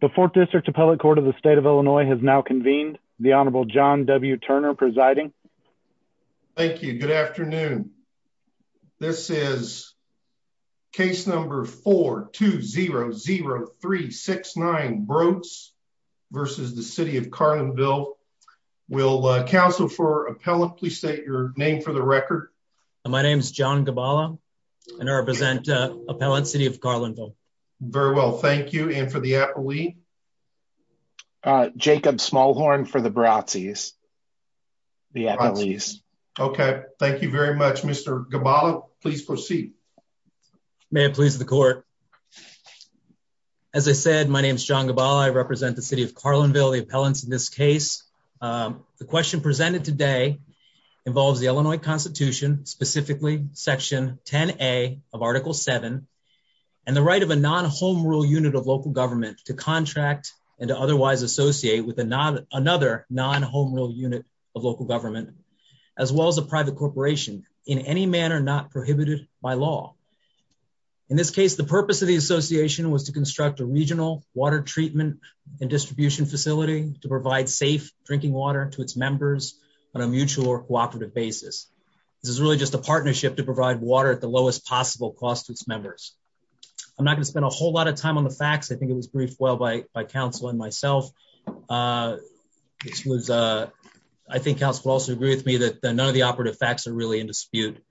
The 4th District Appellate Court of the State of Illinois has now convened. The Honorable John W. Turner presiding. Thank you. Good afternoon. This is case number 4200369 Brotze v. City of Carlinville. Will Council for Appellant please state your name for the record. My name is John Gabala and I represent Appellant City of Carlinville. Very well. Thank you. And for the appellee? Jacob Smallhorn for the Brotze. Okay. Thank you very much, Mr. Gabala. Please proceed. May it please the court. As I said, my name is John Gabala. I represent the City of Carlinville, the appellants in this case. The question presented today involves the Illinois Constitution, specifically Section 10A of Article 7 and the right of a non-home rule unit of local government to contract and to otherwise associate with another non-home rule unit of local government, as well as a private corporation, in any manner not prohibited by law. In this case, the purpose of the association was to construct a regional water treatment and distribution facility to provide safe drinking water to its members on a mutual or cooperative basis. This is just a partnership to provide water at the lowest possible cost to its members. I'm not going to spend a whole lot of time on the facts. I think it was briefed well by Council and myself. I think Council will also agree with me that none of the operative facts are really in dispute.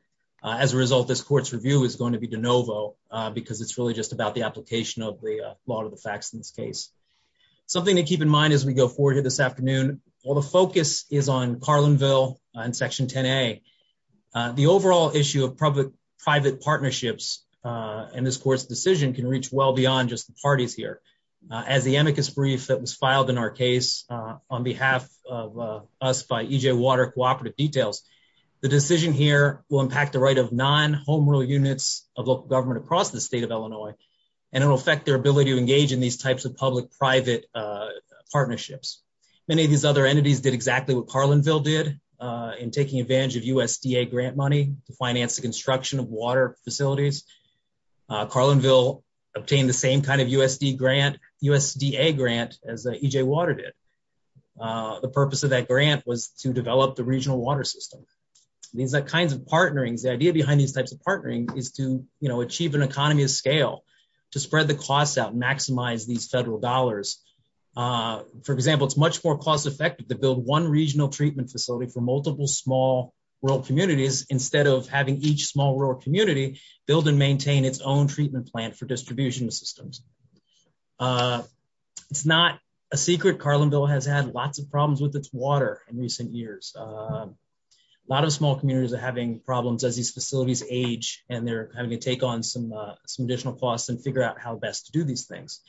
As a result, this court's review is going to be de novo because it's really just about the application of the law to the facts in this case. Something to keep in mind as we go forward here this afternoon, while the focus is on Carlinville and Section 10A, the overall issue of public-private partnerships in this court's decision can reach well beyond just the parties here. As the amicus brief that was filed in our case on behalf of us by EJ Water Cooperative Details, the decision here will impact the right of non-home rule units of local government across the state of Illinois, and it'll affect their ability to engage in these types of public-private partnerships. Many of these other entities did exactly what Carlinville did in taking advantage of USDA grant money to finance the construction of water facilities. Carlinville obtained the same kind of USDA grant as EJ Water did. The purpose of that grant was to develop the regional water system. These kinds of partnerings, the idea behind these types of partnering is to achieve an economy of scale, to spread the costs out, maximize these federal dollars. For example, it's much more cost-effective to build one regional treatment facility for multiple small rural communities instead of having each small rural community build and maintain its own treatment plant for distribution systems. It's not a secret Carlinville has had lots of problems with its water in recent years. A lot of small communities are having problems as these facilities age and they're having to take on some additional costs and figure out how best to do these things.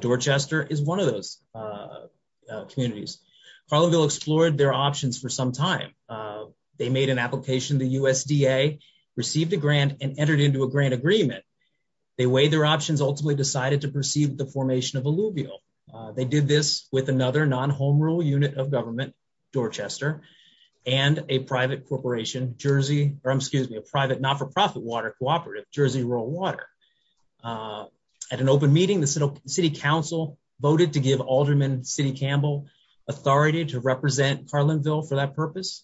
Dorchester is one of those communities. Carlinville explored their options for some time. They made an application to USDA, received a grant, and entered into a grant agreement. They weighed their options, ultimately decided to proceed with the formation of Alluvial. They did this with another non-home rule unit of government, Dorchester, and a private corporation, Jersey, or excuse me, a private not-for-profit water cooperative, Jersey Rural Water. At an open meeting, the city council voted to give Alderman City Campbell authority to represent Carlinville for that purpose.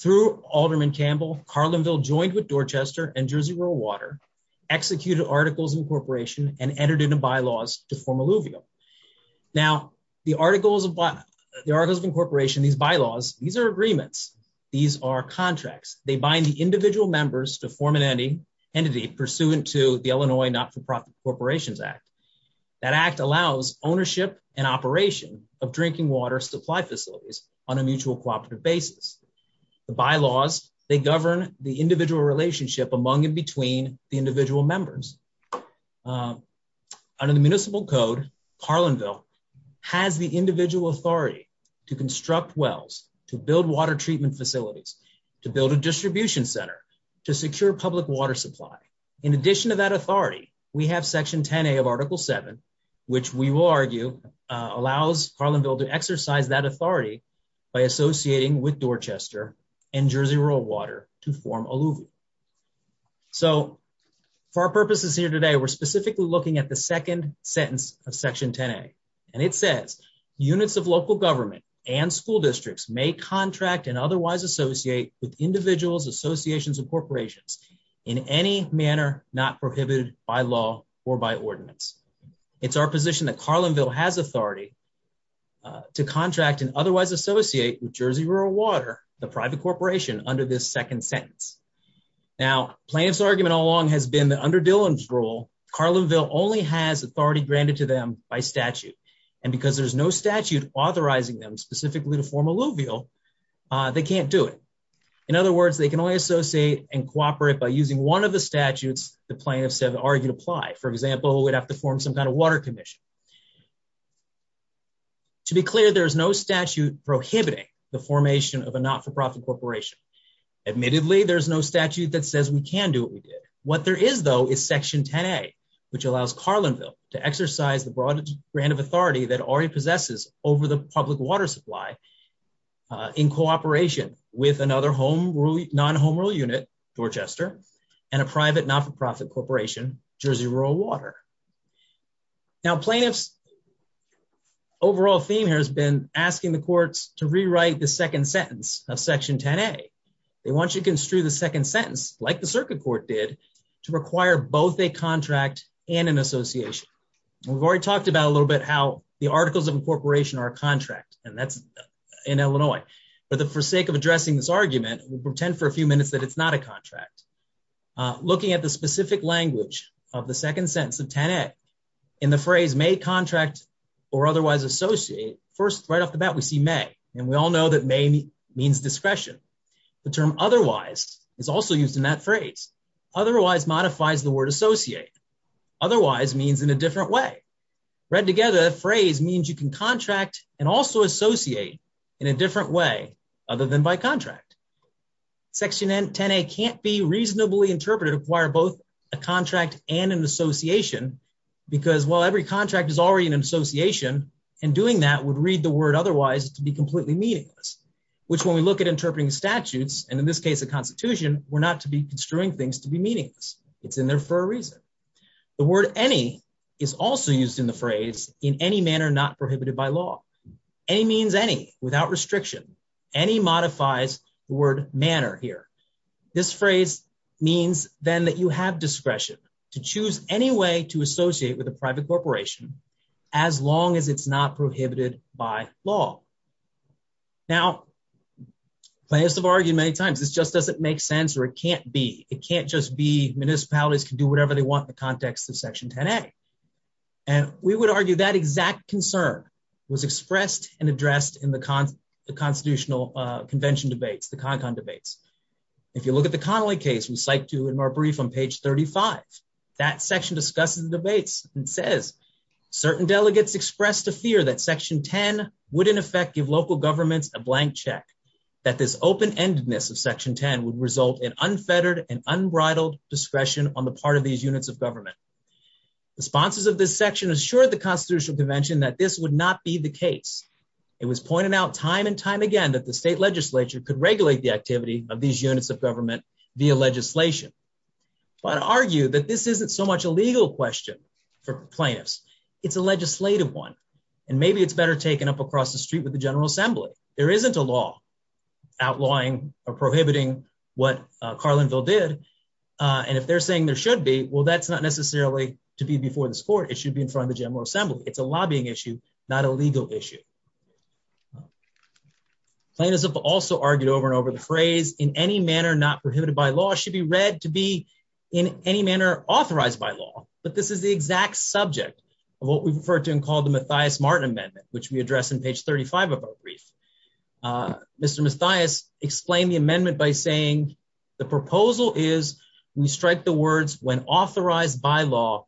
Through Alderman Campbell, Carlinville joined with Dorchester and Jersey Rural Water, executed Articles of Incorporation, and entered into bylaws to form Alluvial. Now, the Articles of Incorporation, these bylaws, these are agreements, these are contracts. They bind the individual members to form an entity pursuant to the Illinois Not-for-Profit Corporations Act. That act allows ownership and operation of drinking water supply facilities on a mutual cooperative basis. The bylaws, they govern the individual relationship among and between the individual members. Under the municipal code, Carlinville has the individual authority to construct wells, to build water treatment facilities, to build a distribution center, to secure public water supply. In addition to that authority, we have Section 10A of Article 7, which we will argue allows Carlinville to exercise that authority by associating with Dorchester and Jersey Rural Water to form Alluvial. So, for our purposes here today, we're specifically looking at the second sentence of Section 10A. And it says, units of local government and school districts may contract and otherwise associate with individuals, associations, and corporations in any manner not prohibited by law or by ordinance. It's our position that Carlinville has authority to contract and otherwise associate with Jersey Rural Water, the private corporation, under this second sentence. Now, plaintiff's argument all along has been that under Dillon's law, Carlinville only has authority granted to them by statute. And because there's no statute authorizing them specifically to form Alluvial, they can't do it. In other words, they can only associate and cooperate by using one of the statutes the plaintiff said argued apply. For example, we'd have to form some kind of water commission. To be clear, there is no statute prohibiting the formation of a not-for-profit corporation. Admittedly, there's no statute that says we can do what we did. What there is, though, is Section 10A, which allows Carlinville to exercise the broadest brand of authority that already possesses over the public water supply in cooperation with another non-home rule unit, Dorchester, and a private not-for-profit corporation, Jersey Rural Water. Now, plaintiff's overall theme here has been asking the courts to rewrite the second sentence of Section 10A. They want you to construe the second sentence, like the circuit court did, to require both a contract and an association. We've already talked about a little bit how the articles of incorporation are a contract, and that's in Illinois. But for sake of addressing this argument, we'll pretend for a few minutes that it's not a contract. Looking at the specific language of the second sentence of 10A, in the phrase may contract or otherwise associate, first right off the bat we see may, and we all know that may means discretion. The term otherwise is also used in that phrase. Otherwise modifies the word associate. Otherwise means in a different way. Read together, phrase means you can contract and also associate in a different way other than by contract. Section 10A can't be reasonably interpreted to require both a contract and an association, and doing that would read the word otherwise to be completely meaningless, which when we look at interpreting statutes, and in this case a constitution, we're not to be construing things to be meaningless. It's in there for a reason. The word any is also used in the phrase in any manner not prohibited by law. Any means any, without restriction. Any modifies the word manner here. This phrase means then that you have discretion to choose any way to associate with a private corporation as long as it's not prohibited by law. Now, plaintiffs have argued many times this just doesn't make sense or it can't be. It can't just be municipalities can do whatever they want in the context of section 10A, and we would argue that exact concern was expressed and addressed in the constitutional convention debates, the CONCON debates. If you look at the section 10A, it says certain delegates expressed a fear that section 10 would in effect give local governments a blank check, that this open-endedness of section 10 would result in unfettered and unbridled discretion on the part of these units of government. The sponsors of this section assured the constitutional convention that this would not be the case. It was pointed out time and time again that the state legislature could regulate the activity of these units of government via legislation, but argued that this isn't so much a legal question for plaintiffs, it's a legislative one, and maybe it's better taken up across the street with the General Assembly. There isn't a law outlawing or prohibiting what Carlinville did, and if they're saying there should be, well that's not necessarily to be before this court, it should be in front of the General Assembly. It's a lobbying issue, not a legal issue. Plaintiffs have also argued over and over the phrase, in any manner not prohibited by law, should be read to be in any manner authorized by law, but this is the exact subject of what we've referred to and called the Matthias-Martin Amendment, which we address in page 35 of our brief. Mr. Matthias explained the amendment by saying the proposal is we strike the words when authorized by law,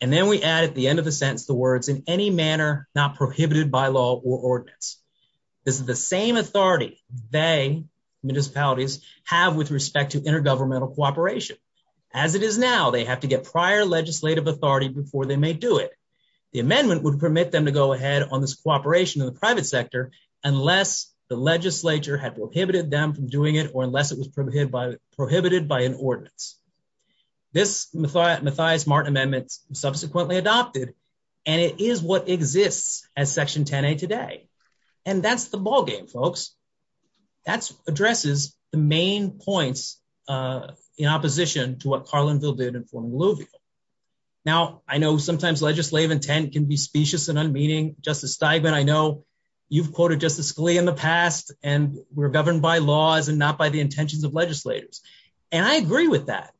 and then we add at the end of the sentence the words, in any manner not prohibited by law or ordinance. This is the same authority they, municipalities, have with respect to intergovernmental cooperation. As it is now, they have to get prior legislative authority before they may do it. The amendment would permit them to go ahead on this cooperation in the private sector, unless the legislature had prohibited them from doing it, or unless it was prohibited by an ordinance. This Matthias-Martin Amendment was subsequently adopted, and it is what exists as Section 10a today, and that's the ballgame, folks. That addresses the main points in opposition to what Carlinville did in forming alluvial. Now, I know sometimes legislative intent can be specious and unmeaning. Justice Steigman, I know you've quoted Justice Scalia in the past, and we're governed by laws and not by the intentions of legislators, and I agree with that.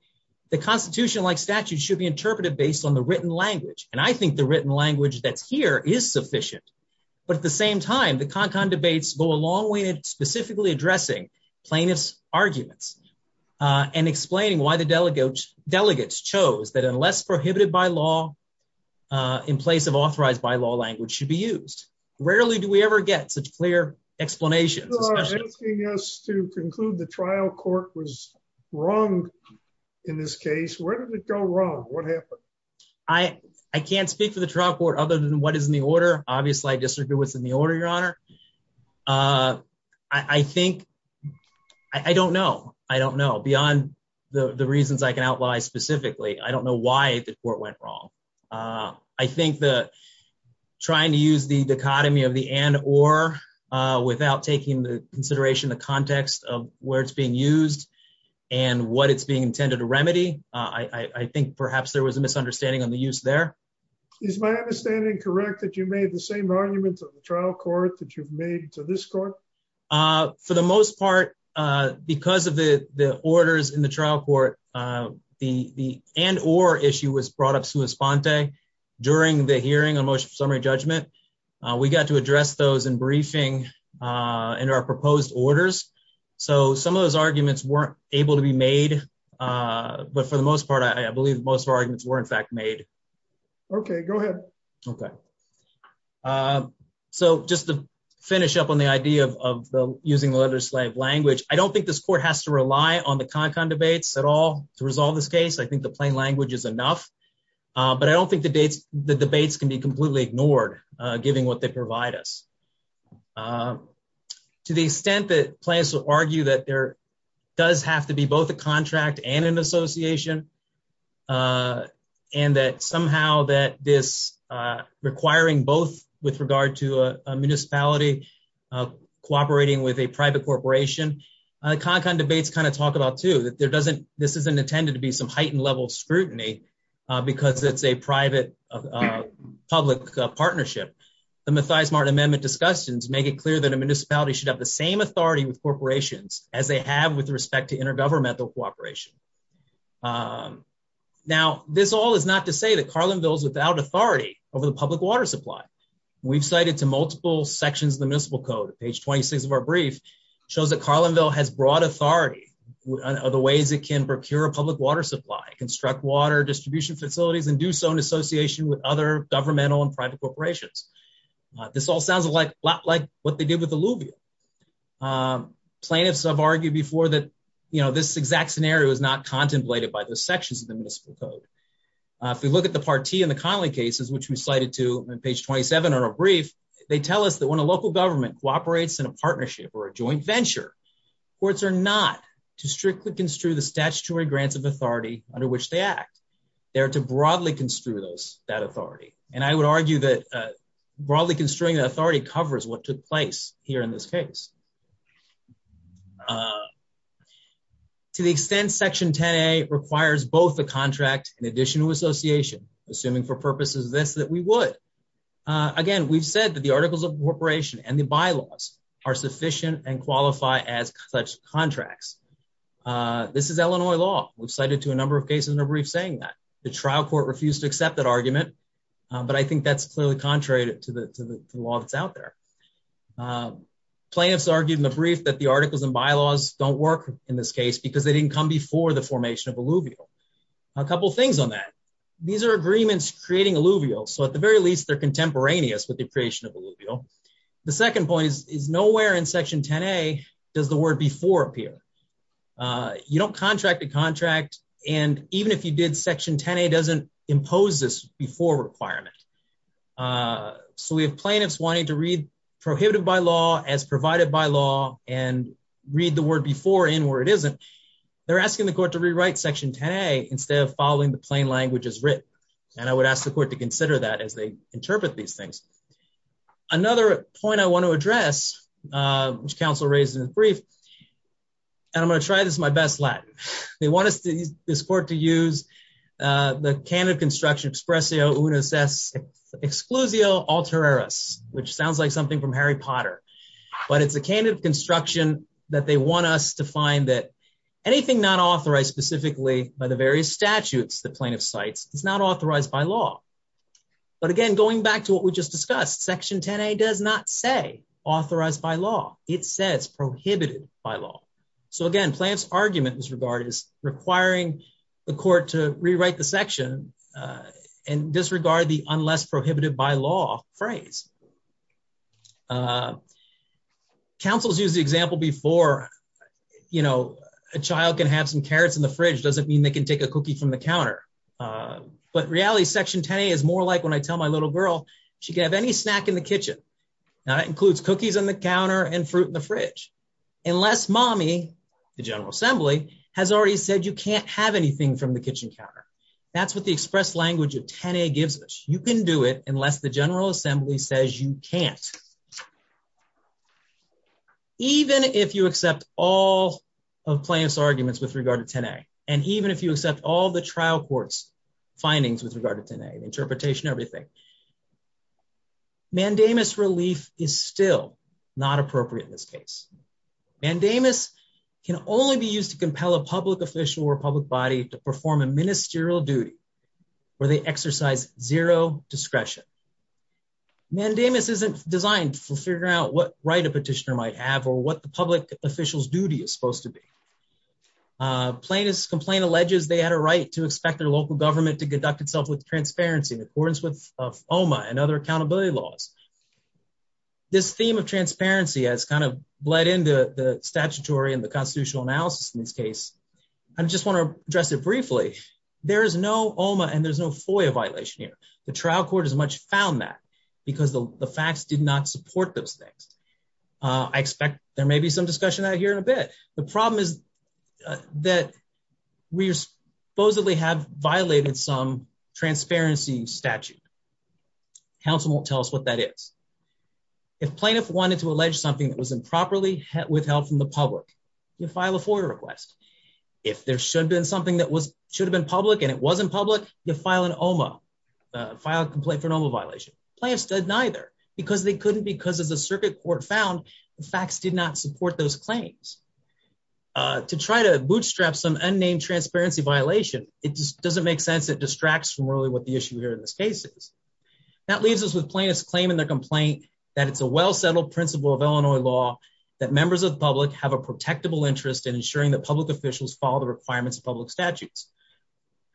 The Constitution, like statutes, should be interpreted based on the written language, and I think the written language that's here is sufficient, but at the same time, the CON-CON debates go a long way in specifically addressing plaintiff's arguments and explaining why the delegates chose that unless prohibited by law, in place of authorized by law language should be used. Rarely do we ever get such clear explanations. You are asking us to conclude the trial court was wrong in this case. Where did it go wrong? What happened? I can't speak for the trial court other than what is in the order. Obviously, I disagree with what's in the order, Your Honor. I think, I don't know. I don't know beyond the reasons I can outline specifically. I don't know why the court went wrong. I think that trying to use the dichotomy of the and or without taking the consideration, the context of where it's being used and what it's being intended to remedy, I think perhaps there was a misunderstanding on the use there. Is my understanding correct that you made the same arguments of the trial court that you've made to this court? For the most part, because of the orders in the trial court, the and or issue was brought up sui sponte during the hearing on motion for summary judgment. We got to address those in briefing in our proposed orders. So some of those arguments weren't able to be made. But for the most part, I believe most of our arguments were in fact made. Okay, go ahead. Okay. So just to finish up on the idea of using the letter slave language, I don't think this court has to rely on the con debates at all to resolve this case, I think the plain language is enough. But I don't think the dates, the debates can be completely ignored, giving what they provide us. To the extent that plans to argue that there does have to be both a contract and an association. And that somehow that this requiring both with regard to a municipality, cooperating with a private corporation, con con debates kind of talked about to that there doesn't this isn't intended to be some heightened level of scrutiny. Because it's a private public partnership. The mathias Martin amendment discussions make it clear that a municipality should have the same authority with corporations as they have with respect to intergovernmental cooperation. Now, this all is not to say that Carlinville is without authority over the public water supply. We've cited to multiple sections of the municipal code page 26 of our brief shows that Carlinville has broad authority on other ways it can procure a public water supply, construct water distribution facilities and do so in association with other governmental and private corporations. This all sounds a lot like what they did with alluvium plaintiffs have argued before that, you know, this exact scenario is not contemplated by the sections of the municipal code. If we look at the party and the Connolly cases, which we cited to page 27, or a brief, they tell us that when a local government cooperates in a partnership or a joint venture, courts are not to strictly construe the statutory grants of authority under which they act there to broadly construe those that authority. And I would argue that broadly construing authority covers what took place here in this case. To the extent section 10 a requires both the contract in addition to association, assuming for purposes of this that we would, again, we've said that the articles of corporation and the bylaws are sufficient and qualify as such contracts. This is Illinois law, we've cited to a number of cases in a brief saying that the trial court refused to accept that argument. But I think that's clearly contrary to the law that's out there. Plaintiffs argued in the brief that the articles and bylaws don't work in this case, because they didn't come before the formation of alluvial. A couple things on that. These are agreements creating alluvial. So at the very least, they're contemporaneous with the creation of alluvial. The second point is nowhere in section 10a does the word before appear. You don't contract a contract. And even if you did, section 10a doesn't impose this before requirement. So we have plaintiffs wanting to read prohibited by law as provided by law and read the word before in where it isn't. They're asking the court to rewrite section 10a instead of following the plain language as written. And I would ask the court to consider that as they interpret these things. Another point I want to address, which counsel raised in the brief, and I'm going to try this my best Latin. They want us to use this court to use the canon of construction expressio unis ex exclusio alter eris, which sounds like something from Harry Potter. But it's a canon of construction that they want us to find that anything not authorized specifically by the various statutes the plaintiff cites is not authorized by law. But again, going back to what we just discussed, section 10a does not say authorized by law, it says prohibited by law. So again, plants argument was regarded as requiring the court to rewrite the section and disregard the unless prohibited by law phrase. Councils use the example before, you know, a child can have some carrots in the fridge doesn't mean they can take a cookie from the counter. But reality section 10a is more like when I tell my little girl, she can have any snack in the kitchen. Now that includes cookies on the counter and fruit in the fridge. Unless mommy, the General Assembly has already said you can't have anything from the kitchen counter. That's what the express language of 10a gives us. You can do it unless the General Assembly says so. Even if you accept all of plants arguments with regard to 10a, and even if you accept all the trial courts findings with regard to 10a interpretation, everything mandamus relief is still not appropriate in this case. mandamus can only be used to compel a public official or public body to perform a ministerial where they exercise zero discretion. mandamus isn't designed for figuring out what right a petitioner might have or what the public officials duty is supposed to be. plaintiff's complaint alleges they had a right to expect their local government to conduct itself with transparency in accordance with OMA and other accountability laws. This theme of transparency has kind of bled into the statutory and the constitutional analysis in this case. I just want to address briefly, there is no OMA and there's no FOIA violation here. The trial court as much found that because the facts did not support those things. I expect there may be some discussion out here in a bit. The problem is that we supposedly have violated some transparency statute. Council won't tell us what that is. If plaintiff wanted to allege something that was improperly if there should have been something that was should have been public and it wasn't public, you file an OMA, file a complaint for an OMA violation. Plaintiffs did neither because they couldn't because as the circuit court found the facts did not support those claims. To try to bootstrap some unnamed transparency violation, it just doesn't make sense. It distracts from really what the issue here in this case is. That leaves us with plaintiffs claiming their complaint that it's a well settled principle of Illinois law that members of the public have a protectable interest in ensuring that public officials follow the requirements of public statutes.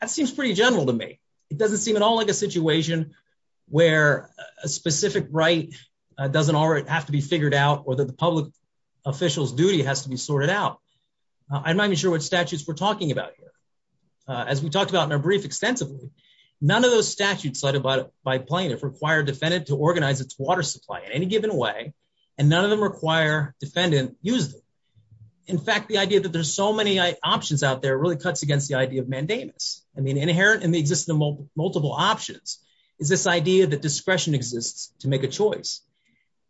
That seems pretty general to me. It doesn't seem at all like a situation where a specific right doesn't already have to be figured out or that the public official's duty has to be sorted out. I'm not even sure what statutes we're talking about here. As we talked about in our brief extensively, none of those statutes cited by plaintiff require defendant to organize its water supply in any given way and none of them require defendant use them. In fact, the idea that there's so many options out there really cuts against the idea of mandamus. Inherent in the existence of multiple options is this idea that discretion exists to make a choice.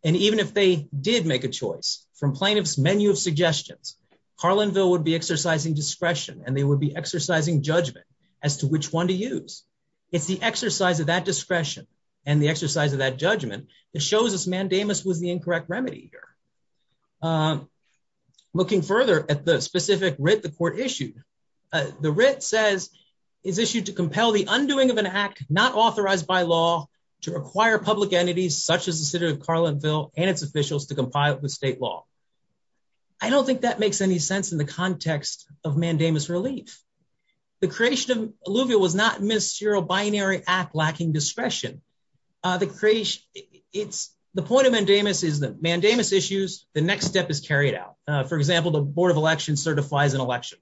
Even if they did make a choice from plaintiff's menu of suggestions, Carlinville would be exercising discretion and they would be exercising judgment as to which one to use. It's the exercise of that discretion and the exercise of that judgment that shows us mandamus was the incorrect remedy here. Looking further at the specific writ the court issued, the writ says is issued to compel the undoing of an act not authorized by law to require public entities such as the city of Carlinville and its officials to compile it with state law. I don't think that makes any sense in the context of mandamus relief. The creation of alluvial was not ministerial binary act lacking discretion. The point of mandamus is that mandamus issues, the next step is carried out. For example, the board of elections certifies an election.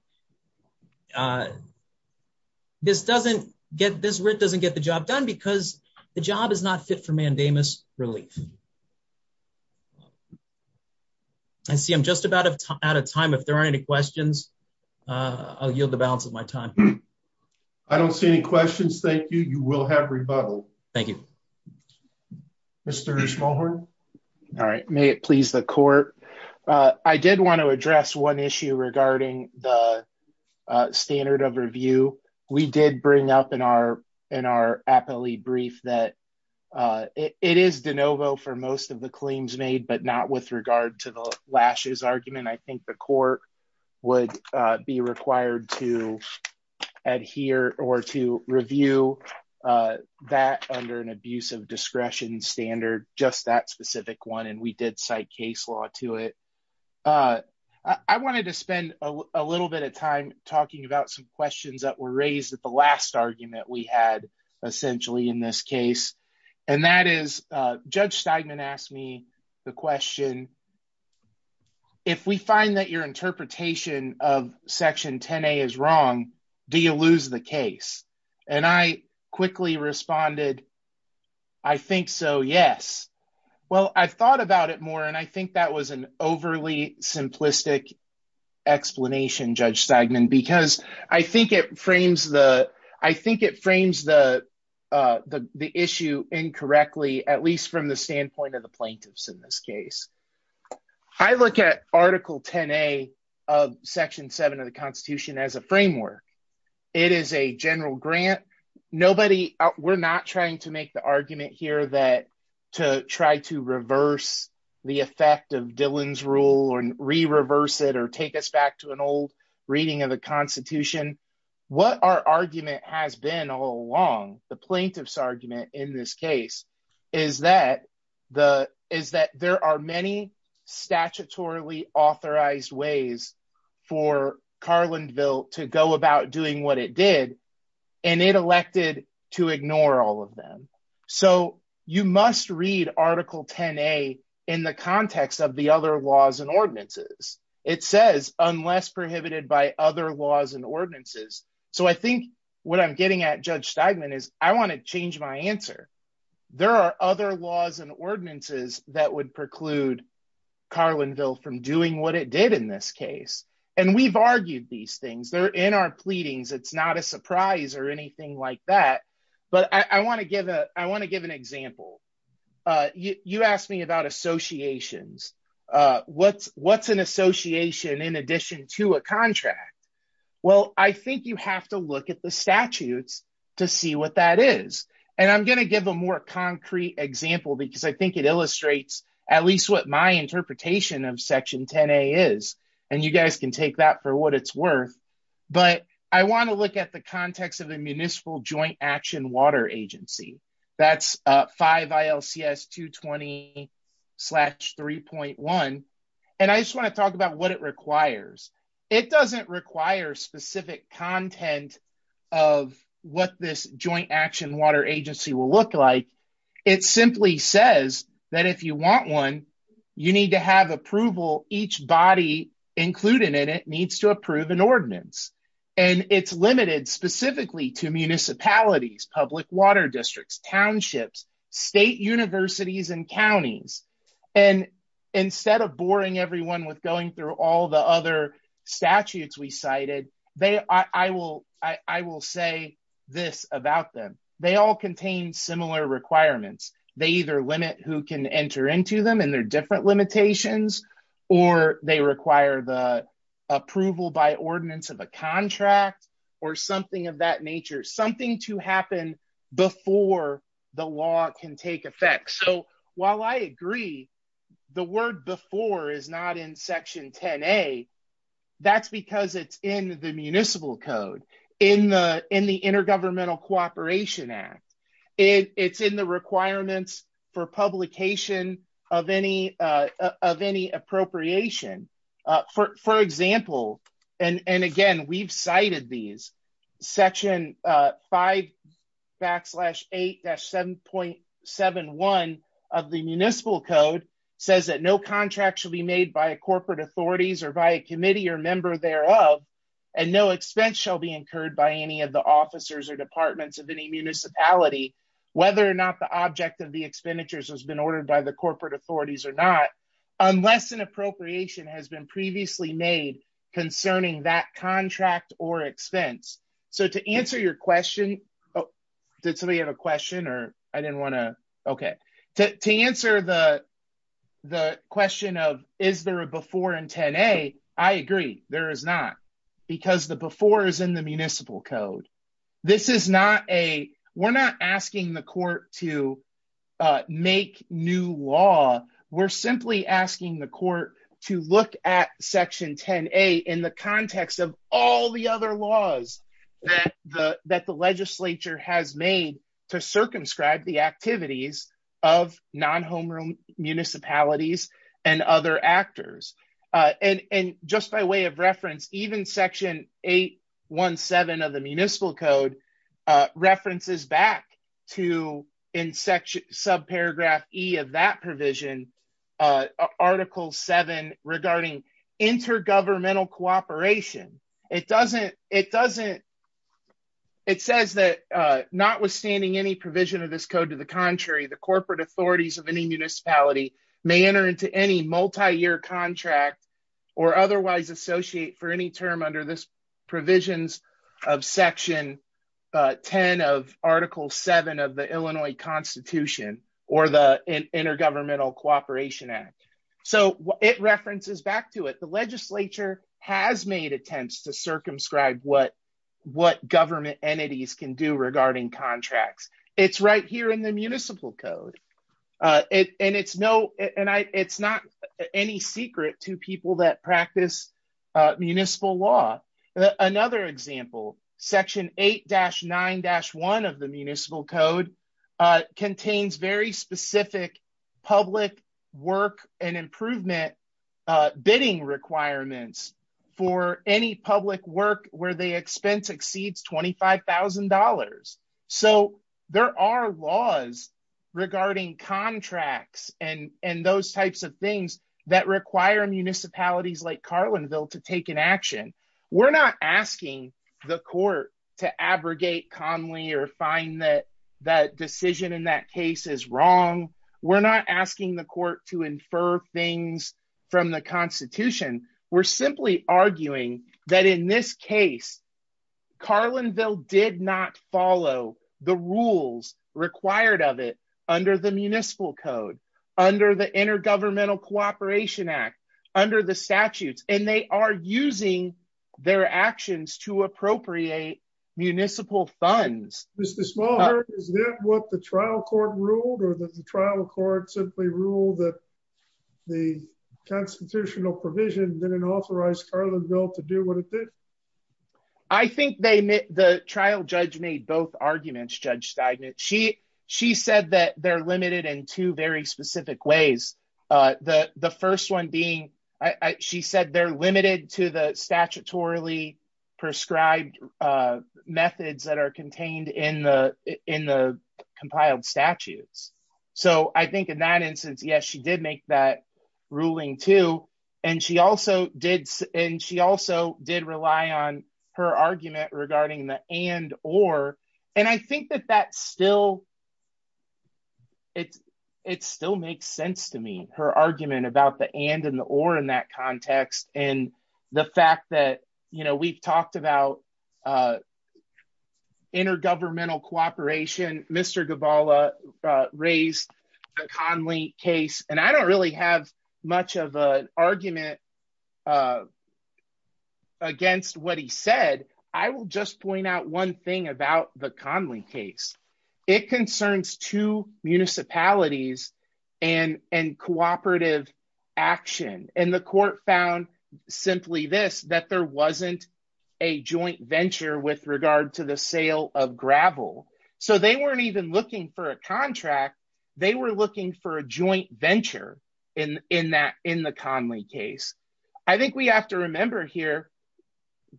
This writ doesn't get the job done because the job is not fit for mandamus relief. I see I'm just about out of time. If there aren't any questions, I'll yield the balance of my time. I don't see any questions. Thank you. You will have rebuttal. Thank you. Mr. Smallhorn. All right. May it please the court. I did want to address one issue regarding the standard of review. We did bring up in our appellee brief that it is de novo for most of the claims made, but not with regard to the lashes argument. I think the court would be required to adhere or to review that under an abuse of discretion standard, just that specific one. And we did cite case law to it. I wanted to spend a little bit of time talking about some questions that were raised at the last argument we had, essentially, in this case. And that is, Judge Steigman asked me the question, if we find that your interpretation of section 10A is wrong, do you lose the case? And I quickly responded, I think so, yes. Well, I've thought about it more, and I think that was an overly the issue incorrectly, at least from the standpoint of the plaintiffs in this case. I look at Article 10A of Section 7 of the Constitution as a framework. It is a general grant. Nobody, we're not trying to make the argument here that to try to reverse the effect of Dillon's rule and re-reverse it or take us back to an old reading of the Constitution. What our argument has been all along, the plaintiff's argument in this case, is that there are many statutorily authorized ways for Carlinville to go about doing what it did, and it elected to ignore all of them. So you must read Article 10A in the context of the other laws ordinances. It says, unless prohibited by other laws and ordinances. So I think what I'm getting at, Judge Steigman, is I want to change my answer. There are other laws and ordinances that would preclude Carlinville from doing what it did in this case. And we've argued these things. They're in our pleadings. It's not a surprise or anything like that. But I want to give an example. You asked me about associations. What's an association in addition to a contract? Well, I think you have to look at the statutes to see what that is. And I'm going to give a more concrete example because I think it illustrates at least what my interpretation of Section 10A is. And you guys can take that for what it's worth. But I want to look at the context of the Municipal Joint Action Water Agency. That's 5 ILCS 220-3.1. And I just want to talk about what it requires. It doesn't require specific content of what this Joint Action Water Agency will look like. It simply says that if you want one, you need to have approval. Each body included in it needs to approve an ordinance. And it's limited specifically to municipalities, public water districts, townships, state universities, and counties. And instead of boring everyone with going through all the other statutes we cited, I will say this about them. They all contain similar requirements. They either limit who can enter into them and their limitations, or they require the approval by ordinance of a contract or something of that nature. Something to happen before the law can take effect. So while I agree, the word before is not in Section 10A, that's because it's in the Municipal Code, in the Intergovernmental Cooperation Act. It's in the requirements for publication of any appropriation. For example, and again, we've cited these, Section 5 backslash 8-7.71 of the Municipal Code says that no contract shall be made by corporate authorities or by a committee or member thereof, and no expense shall be incurred by any of the officers or departments of any municipality, whether or not the object of the expenditures has been ordered by the corporate authorities or not, unless an appropriation has been previously made concerning that contract or expense. So to answer your question, did somebody have a question or I didn't want to, okay. To answer the because the before is in the Municipal Code. We're not asking the court to make new law, we're simply asking the court to look at Section 10A in the context of all the other laws that the legislature has made to circumscribe the activities of non-homeroom municipalities and other actors. And just by way of reference, even Section 8-1-7 of the Municipal Code references back to, in subparagraph E of that provision, Article 7 regarding intergovernmental cooperation. It doesn't, it says that notwithstanding any provision of this code, to the contrary, the corporate authorities of any municipality may enter into any multi-year contract or otherwise associate for any term under this provisions of Section 10 of Article 7 of the Illinois Constitution or the Intergovernmental Cooperation Act. So it references back to it. The legislature has made attempts to circumscribe what government entities can do regarding contracts. It's right here in the Municipal Code. And it's not any secret to people that practice municipal law. Another example, Section 8-9-1 of the Municipal Code contains very specific public work and improvement bidding requirements for any public work where expense exceeds $25,000. So there are laws regarding contracts and those types of things that require municipalities like Carlinville to take an action. We're not asking the court to abrogate calmly or find that decision in that case is wrong. We're not asking the court to infer things from the Constitution. We're simply arguing that in this case, Carlinville did not follow the rules required of it under the Municipal Code, under the Intergovernmental Cooperation Act, under the statutes, and they are using their actions to appropriate municipal funds. Mr. Smallhurst, is that what the trial court ruled or the trial court simply ruled that the constitutional provision didn't authorize Carlinville to do what it did? I think the trial judge made both arguments, Judge Steigman. She said that they're limited in two very specific ways. The first one being, she said they're limited to the statutorily prescribed methods that are contained in the compiled statutes. So I think in that instance, yes, she did make that ruling too. And she also did rely on her argument regarding the and or, and I think that that still, it still makes sense to me, her argument about the and and the or in that context. And the fact that, you know, we've talked about intergovernmental cooperation, Mr. Gabala raised the Conley case, and I don't really have much of an argument against what he said. I will just point out one thing about the Conley case. It concerns two municipalities and cooperative action. And the court found simply this, that there wasn't a joint venture with regard to the sale of gravel. So they weren't even looking for a contract. They were looking for a joint venture in the Conley case. I think we have to remember here,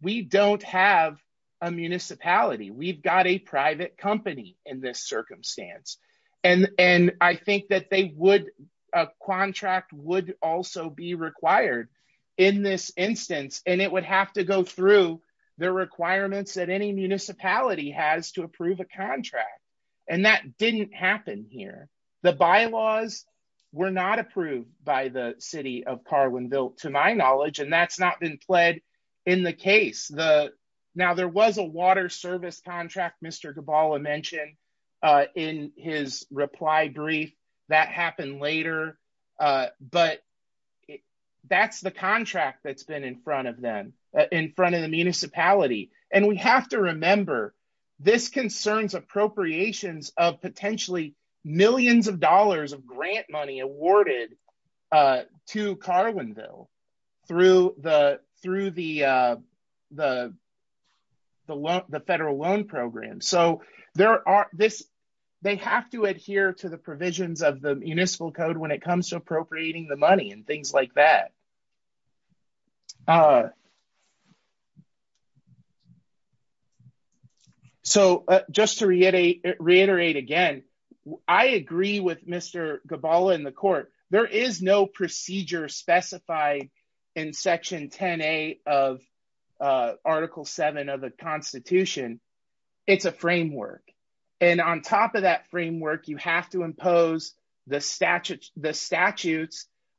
we don't have a municipality, we've got a private company in this circumstance. And I think that a contract would also be required in this instance. And it would have to go through the requirements that any municipality has to approve a contract. And that didn't happen here. The bylaws were not approved by the city of Carlinville, to my knowledge, and that's not been in the case. Now there was a water service contract, Mr. Gabala mentioned in his reply brief, that happened later. But that's the contract that's been in front of them, in front of the municipality. And we have to remember, this concerns appropriations of potentially millions of dollars of grant money awarded to Carlinville through the federal loan program. So they have to adhere to the provisions of the municipal code when it comes to appropriating the money and things like that. So just to reiterate again, I agree with Mr. Gabala in the court, there is no procedure specified in Section 10A of Article 7 of the Constitution. It's a framework. And on top of that framework, you have to impose the statutes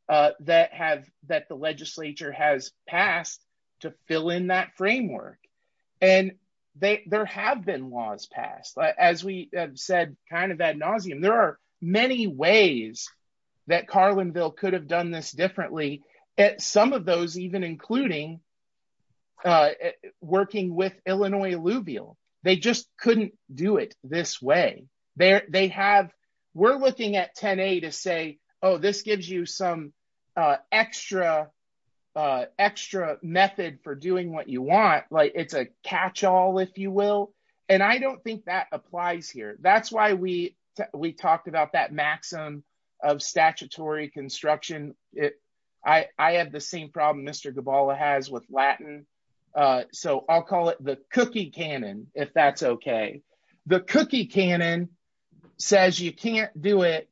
that the legislature has passed to fill in that framework. And there have been laws passed. As we have said kind of ad nauseum, there are many ways that Carlinville could have done this differently. Some of those even including working with Illinois Alluvial. They just couldn't do it this way. We're looking at 10A to say, oh, this gives you some extra method for doing what you want. It's a catch-all, if you will. And I don't think that applies here. That's why we talked about that maxim of statutory construction. I have the same problem Mr. Gabala has with Latin. So I'll call it the cookie canon, if that's okay. The cookie canon says you can't do it,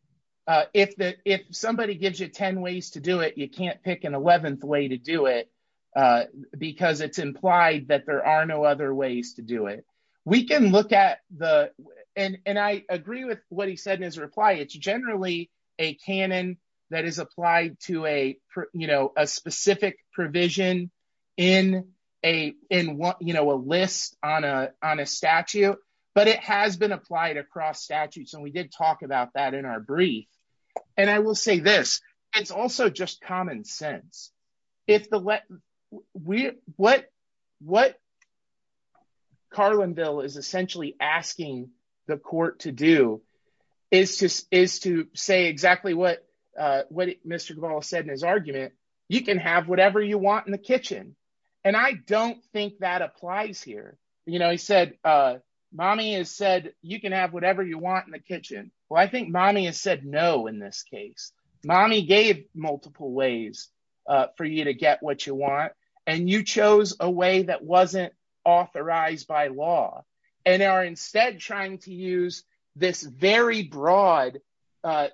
if somebody gives you 10 ways to do it, you can't pick an 11th way to do it because it's implied that there are no other ways to do it. We can look at the, and I agree with what he said in his reply, it's generally a canon that is applied to a specific provision in a list on a statute. But it has been applied across statutes and we did talk about that in our brief. And I will say this, it's also just common sense. If the, what Carlinville is essentially asking the court to do is to say exactly what Mr. Gabala said in his argument, you can have whatever you want in the kitchen. And I don't think that applies here. He said, mommy has said, you can have whatever you want in the kitchen. Well, I think mommy has said, no, in this case, mommy gave multiple ways for you to get what you want. And you chose a way that wasn't authorized by law and are instead trying to use this very broad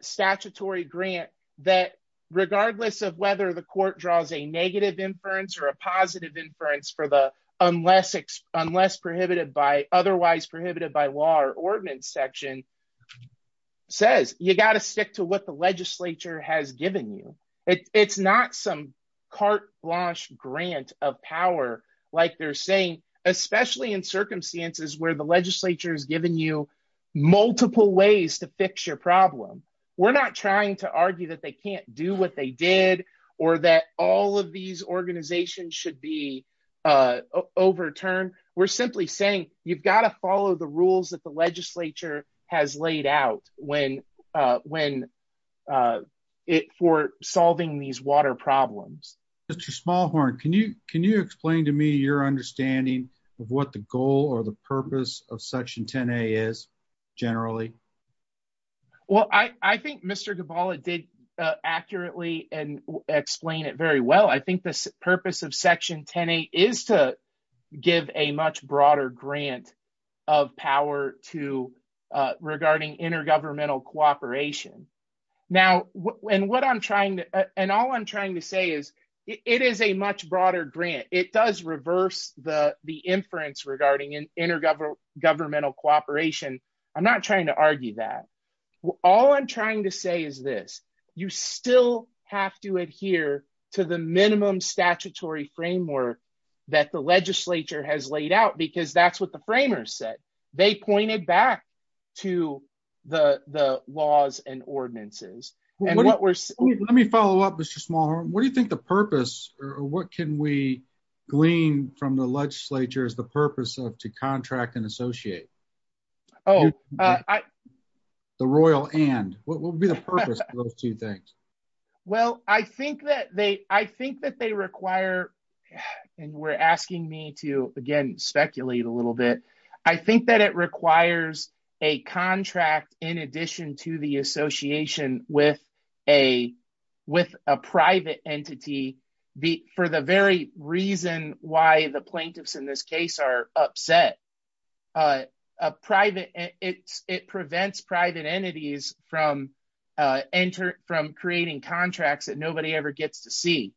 statutory grant that regardless of whether the court draws a negative inference or a positive inference for the, unless prohibited by otherwise prohibited by law or ordinance section says, you got to stick to what the legislature has given you. It's not some carte blanche grant of power, like they're saying, especially in circumstances where the legislature has given you multiple ways to fix your problem. We're not trying to argue that they can't do what they did or that all of these organizations should be overturned. We're simply saying, you've got to stick to the rules that the legislature has laid out for solving these water problems. Mr. Smallhorn, can you explain to me your understanding of what the goal or the purpose of section 10a is generally? Well, I think Mr. Gabala did accurately and explain it very well. I think the purpose of section 10a is to give a much broader grant of power regarding intergovernmental cooperation. And all I'm trying to say is it is a much broader grant. It does reverse the inference regarding intergovernmental cooperation. I'm not trying to argue that. All I'm trying to say is this, you still have to adhere to the minimum statutory framework that the legislature has laid out, because that's what the framers said. They pointed back to the laws and ordinances. Let me follow up, Mr. Smallhorn. What do you think the purpose or what can we glean from the legislature is the purpose of to contract and associate? Oh, I the Royal and what will be the purpose of those two things? Well, I think that they I think that they require and we're asking me to again speculate a little bit. I think that it requires a contract in addition to the association with a with a private entity for the very reason why the plaintiffs in this case are upset. A private it prevents private entities from enter from creating contracts that nobody ever gets to see.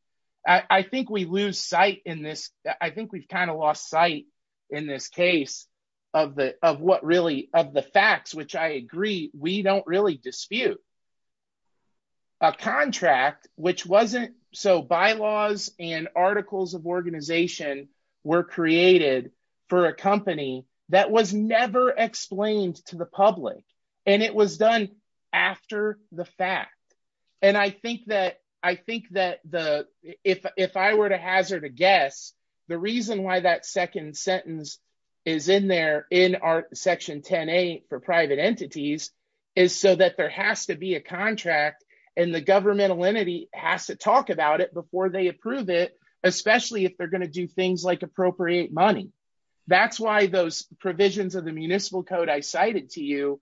I think we lose sight in this. I think we've kind of lost sight in this case of the of what really of the facts, which I agree, we don't really dispute a contract, which wasn't so bylaws and articles of organization were created for a company that was never explained to the public. And it was done after the fact. And I think that I think that the if if I were to hazard a guess, the reason why that second sentence is in there in our section 10 A for private entities is so that there has to be a contract and the governmental entity has to talk about it before they approve it, especially if they're going to do things like appropriate money. That's why those provisions of the municipal code I cited to you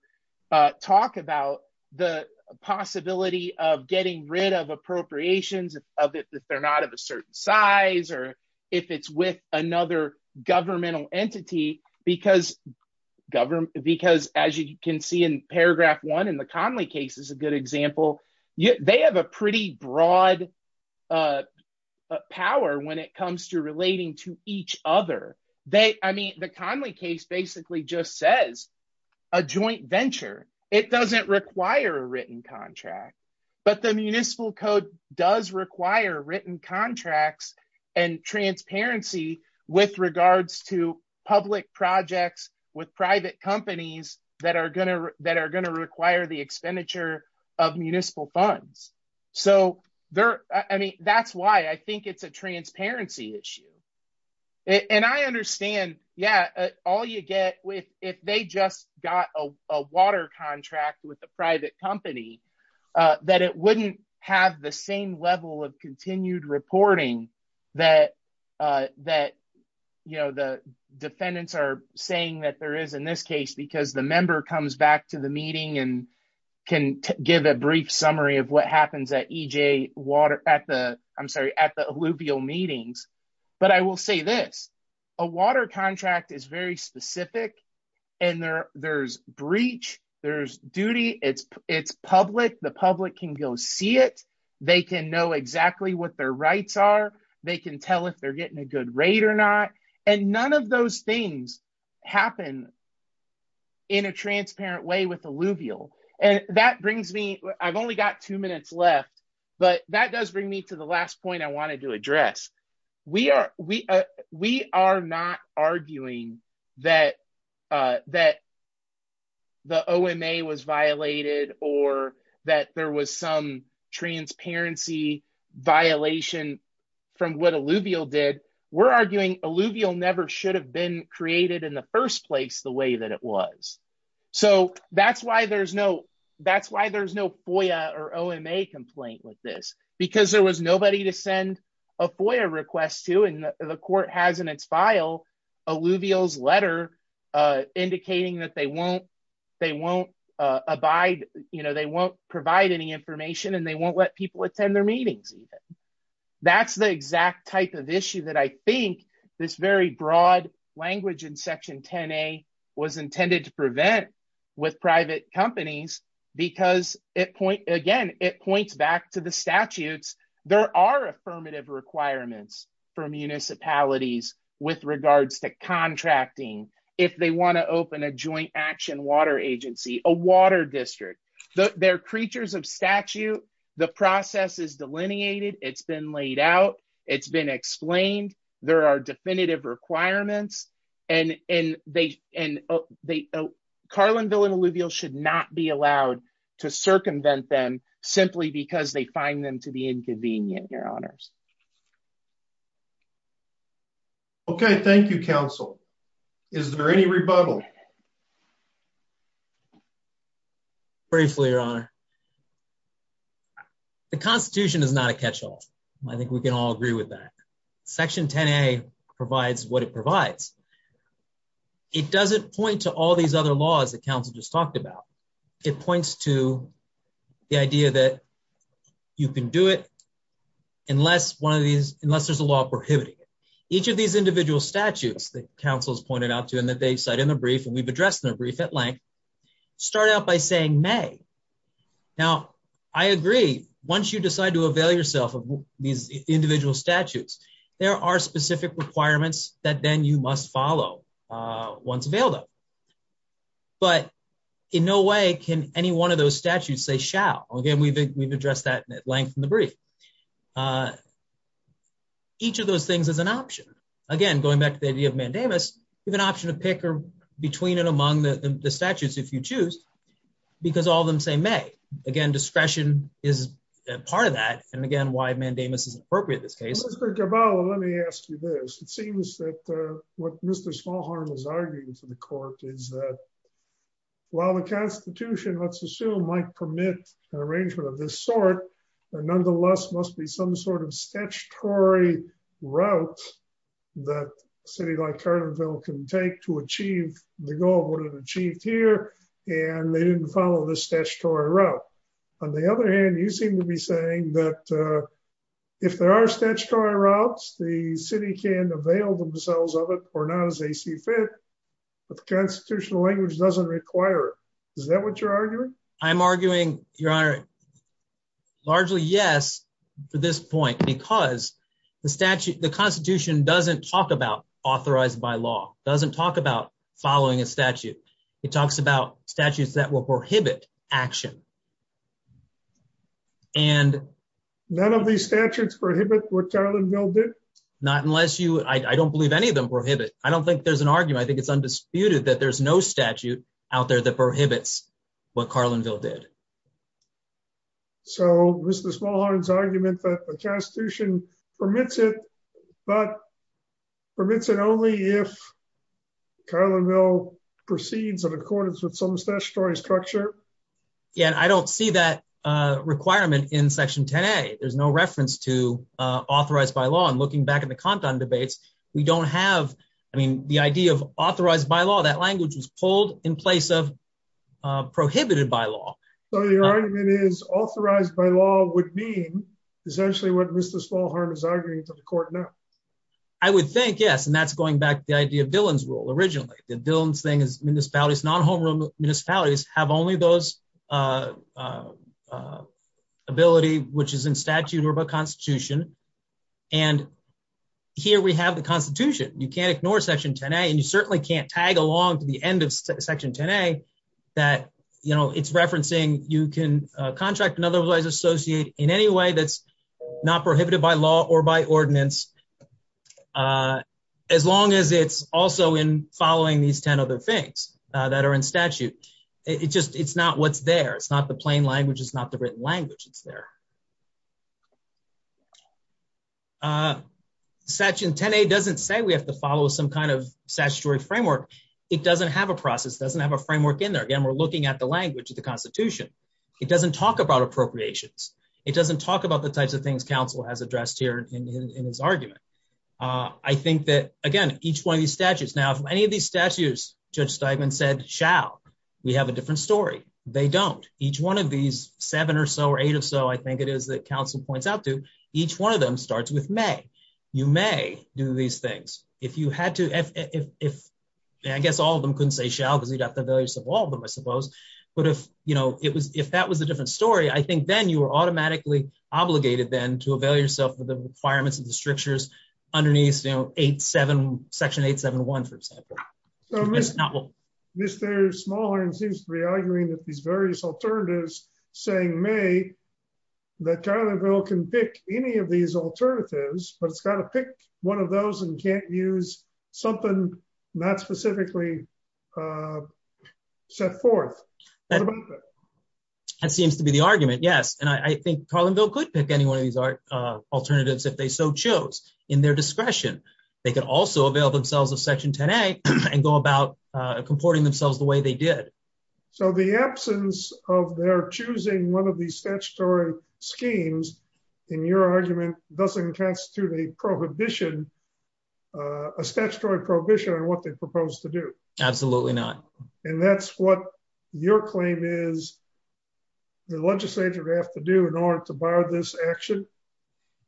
talk about the possibility of getting rid of appropriations of it if they're not of a certain size or if it's with another governmental entity because government because as you can see in paragraph one in the Conley case is a good example. They have a pretty broad power when it comes to relating to each other. They I mean, the Conley case basically just says a joint venture. It doesn't require a written contract, but the municipal code does require written contracts and transparency with regards to public projects with private companies that are going to that are going to require the expenditure of municipal funds. So there I mean, that's why I think it's a transparency issue. And I understand, yeah, all you get with if they just got a water contract with a private company, that it wouldn't have the same level of continued reporting that, you know, the defendants are saying that there is in this case, because the member comes back to the meeting and can give a brief summary of what happens at EJ water at the, I'm sorry, at the alluvial meetings. But I will say this, a water contract is very specific. And there's breach, there's duty, it's public, the public can go see it, they can know exactly what their rights are, they can tell if they're getting a good rate or not. And none of those things happen in a transparent way with alluvial. And that brings me, I've only got two minutes left. But that does bring me to the last point I wanted to address. We are not arguing that the OMA was violated, or that there was some transparency violation from what alluvial did, we're arguing alluvial never should have been created in the first place the way that it was. So that's why there's no FOIA or OMA complaint with this, because there was nobody to send a FOIA request to and the court has in its file alluvial's letter, indicating that they won't, they won't abide, you know, they won't provide any information and they won't let people attend their meetings. That's the exact type of issue that I think this very broad language in section 10a was intended to prevent with private companies, because it point again, it points back the statutes, there are affirmative requirements for municipalities with regards to contracting, if they want to open a joint action water agency, a water district, they're creatures of statute, the process is delineated, it's been laid out, it's been explained, there are definitive requirements. And Carlinville and alluvial should not be allowed to circumvent them simply because they find them to be inconvenient, your honors. Okay, thank you, counsel. Is there any rebuttal? Briefly, your honor. The Constitution is not a catchall. I think we can all agree with that. Section 10a provides what it provides. It doesn't point to all these other laws that it points to the idea that you can do it unless one of these unless there's a law prohibiting it. Each of these individual statutes that counsels pointed out to him that they cite in the brief, and we've addressed their brief at length, start out by saying may. Now, I agree, once you decide to avail yourself of these individual statutes, there are specific requirements that then you must follow once available. But in no way can any one of those statutes say shall, again, we've addressed that at length in the brief. Each of those things is an option. Again, going back to the idea of mandamus, you have an option to pick between and among the statutes if you choose, because all of them say may. Again, discretion is part of that. And again, why mandamus is appropriate in this case. Mr. Caballa, let me ask you this. It seems that what Mr. Smallhorn was arguing to the court is that while the Constitution, let's assume, might permit an arrangement of this sort, there nonetheless must be some sort of statutory route that a city like Carterville can take to achieve the goal of what it achieved here, and they didn't follow this if there are statutory routes, the city can avail themselves of it or not as they see fit, but the constitutional language doesn't require it. Is that what you're arguing? I'm arguing, Your Honor, largely yes, to this point, because the statute, the Constitution doesn't talk about authorized by law, doesn't talk about following a statute. It talks about what Carlinville did. Not unless you, I don't believe any of them prohibit. I don't think there's an argument. I think it's undisputed that there's no statute out there that prohibits what Carlinville did. So Mr. Smallhorn's argument that the Constitution permits it, but permits it only if Carlinville proceeds in accordance with some statutory structure. Yeah, and I don't see that requirement in Section 10A. There's no reference to authorized by law, and looking back at the Compton debates, we don't have, I mean, the idea of authorized by law, that language was pulled in place of prohibited by law. So your argument is authorized by law would mean essentially what Mr. Smallhorn is arguing to the court now? I would think yes, and that's going back to the idea of Dillon's rule originally. The Dillon's thing is municipalities, non-home municipalities have only those ability which is in statute or by Constitution, and here we have the Constitution. You can't ignore Section 10A, and you certainly can't tag along to the end of Section 10A that, you know, it's referencing you can contract and otherwise associate in any way that's not prohibited by law or by ordinance, as long as it's also in following these 10 other things that are in statute. It just, it's not what's there. It's not the plain language. It's not the written language. It's there. Section 10A doesn't say we have to follow some kind of statutory framework. It doesn't have a process. It doesn't have a framework in there. Again, we're looking at the language of the Constitution. It doesn't talk about appropriations. It doesn't talk about the types of things counsel has addressed here in his argument. I think that, again, each one of these statutes, now if any of these statutes, Judge Steigman said shall, we have a different story. They don't. Each one of these seven or so or eight or so, I think it is that counsel points out to, each one of them starts with may. You may do these things. If you had to, if, I guess all of them couldn't say shall because you'd have to avail yourself of all of them, I suppose, but if, you know, it was, if that was a different story, I think then you were automatically obligated then to avail yourself of the requirements of the strictures underneath, you know, 8-7, section 8-7-1, for example. So Ms. Smallhorn seems to be arguing that these various alternatives saying may, that Carlinville can pick any of these alternatives, but it's got to pick one of those and can't use something not specifically set forth. That seems to be the argument, yes, and I think Carlinville could pick any one of these alternatives if they so chose in their discretion. They could also avail themselves of section 10-A and go about comporting themselves the way they did. So the absence of their choosing one of these statutory schemes, in your argument, doesn't constitute a prohibition, a statutory prohibition on what they propose to do. Absolutely not. And that's what your claim is the legislature would have to do in order to bar this action?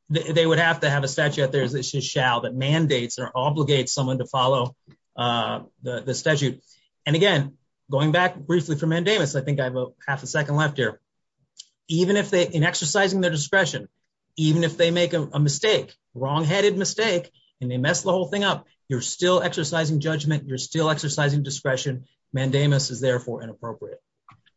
They would have to have a statute out there, as it should shall, that mandates or obligates someone to follow the statute. And again, going back briefly for Mandamus, I think I have a half a second left here. Even if they, in exercising their discretion, even if they make a mistake, wrong-headed mistake, and they mess the whole thing up, you're still exercising judgment, you're still exercising discretion, Mandamus is therefore inappropriate.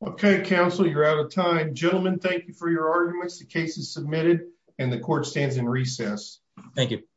Okay, counsel, you're out of time. Gentlemen, thank you for your arguments. The case is submitted and the court stands in recess. Thank you.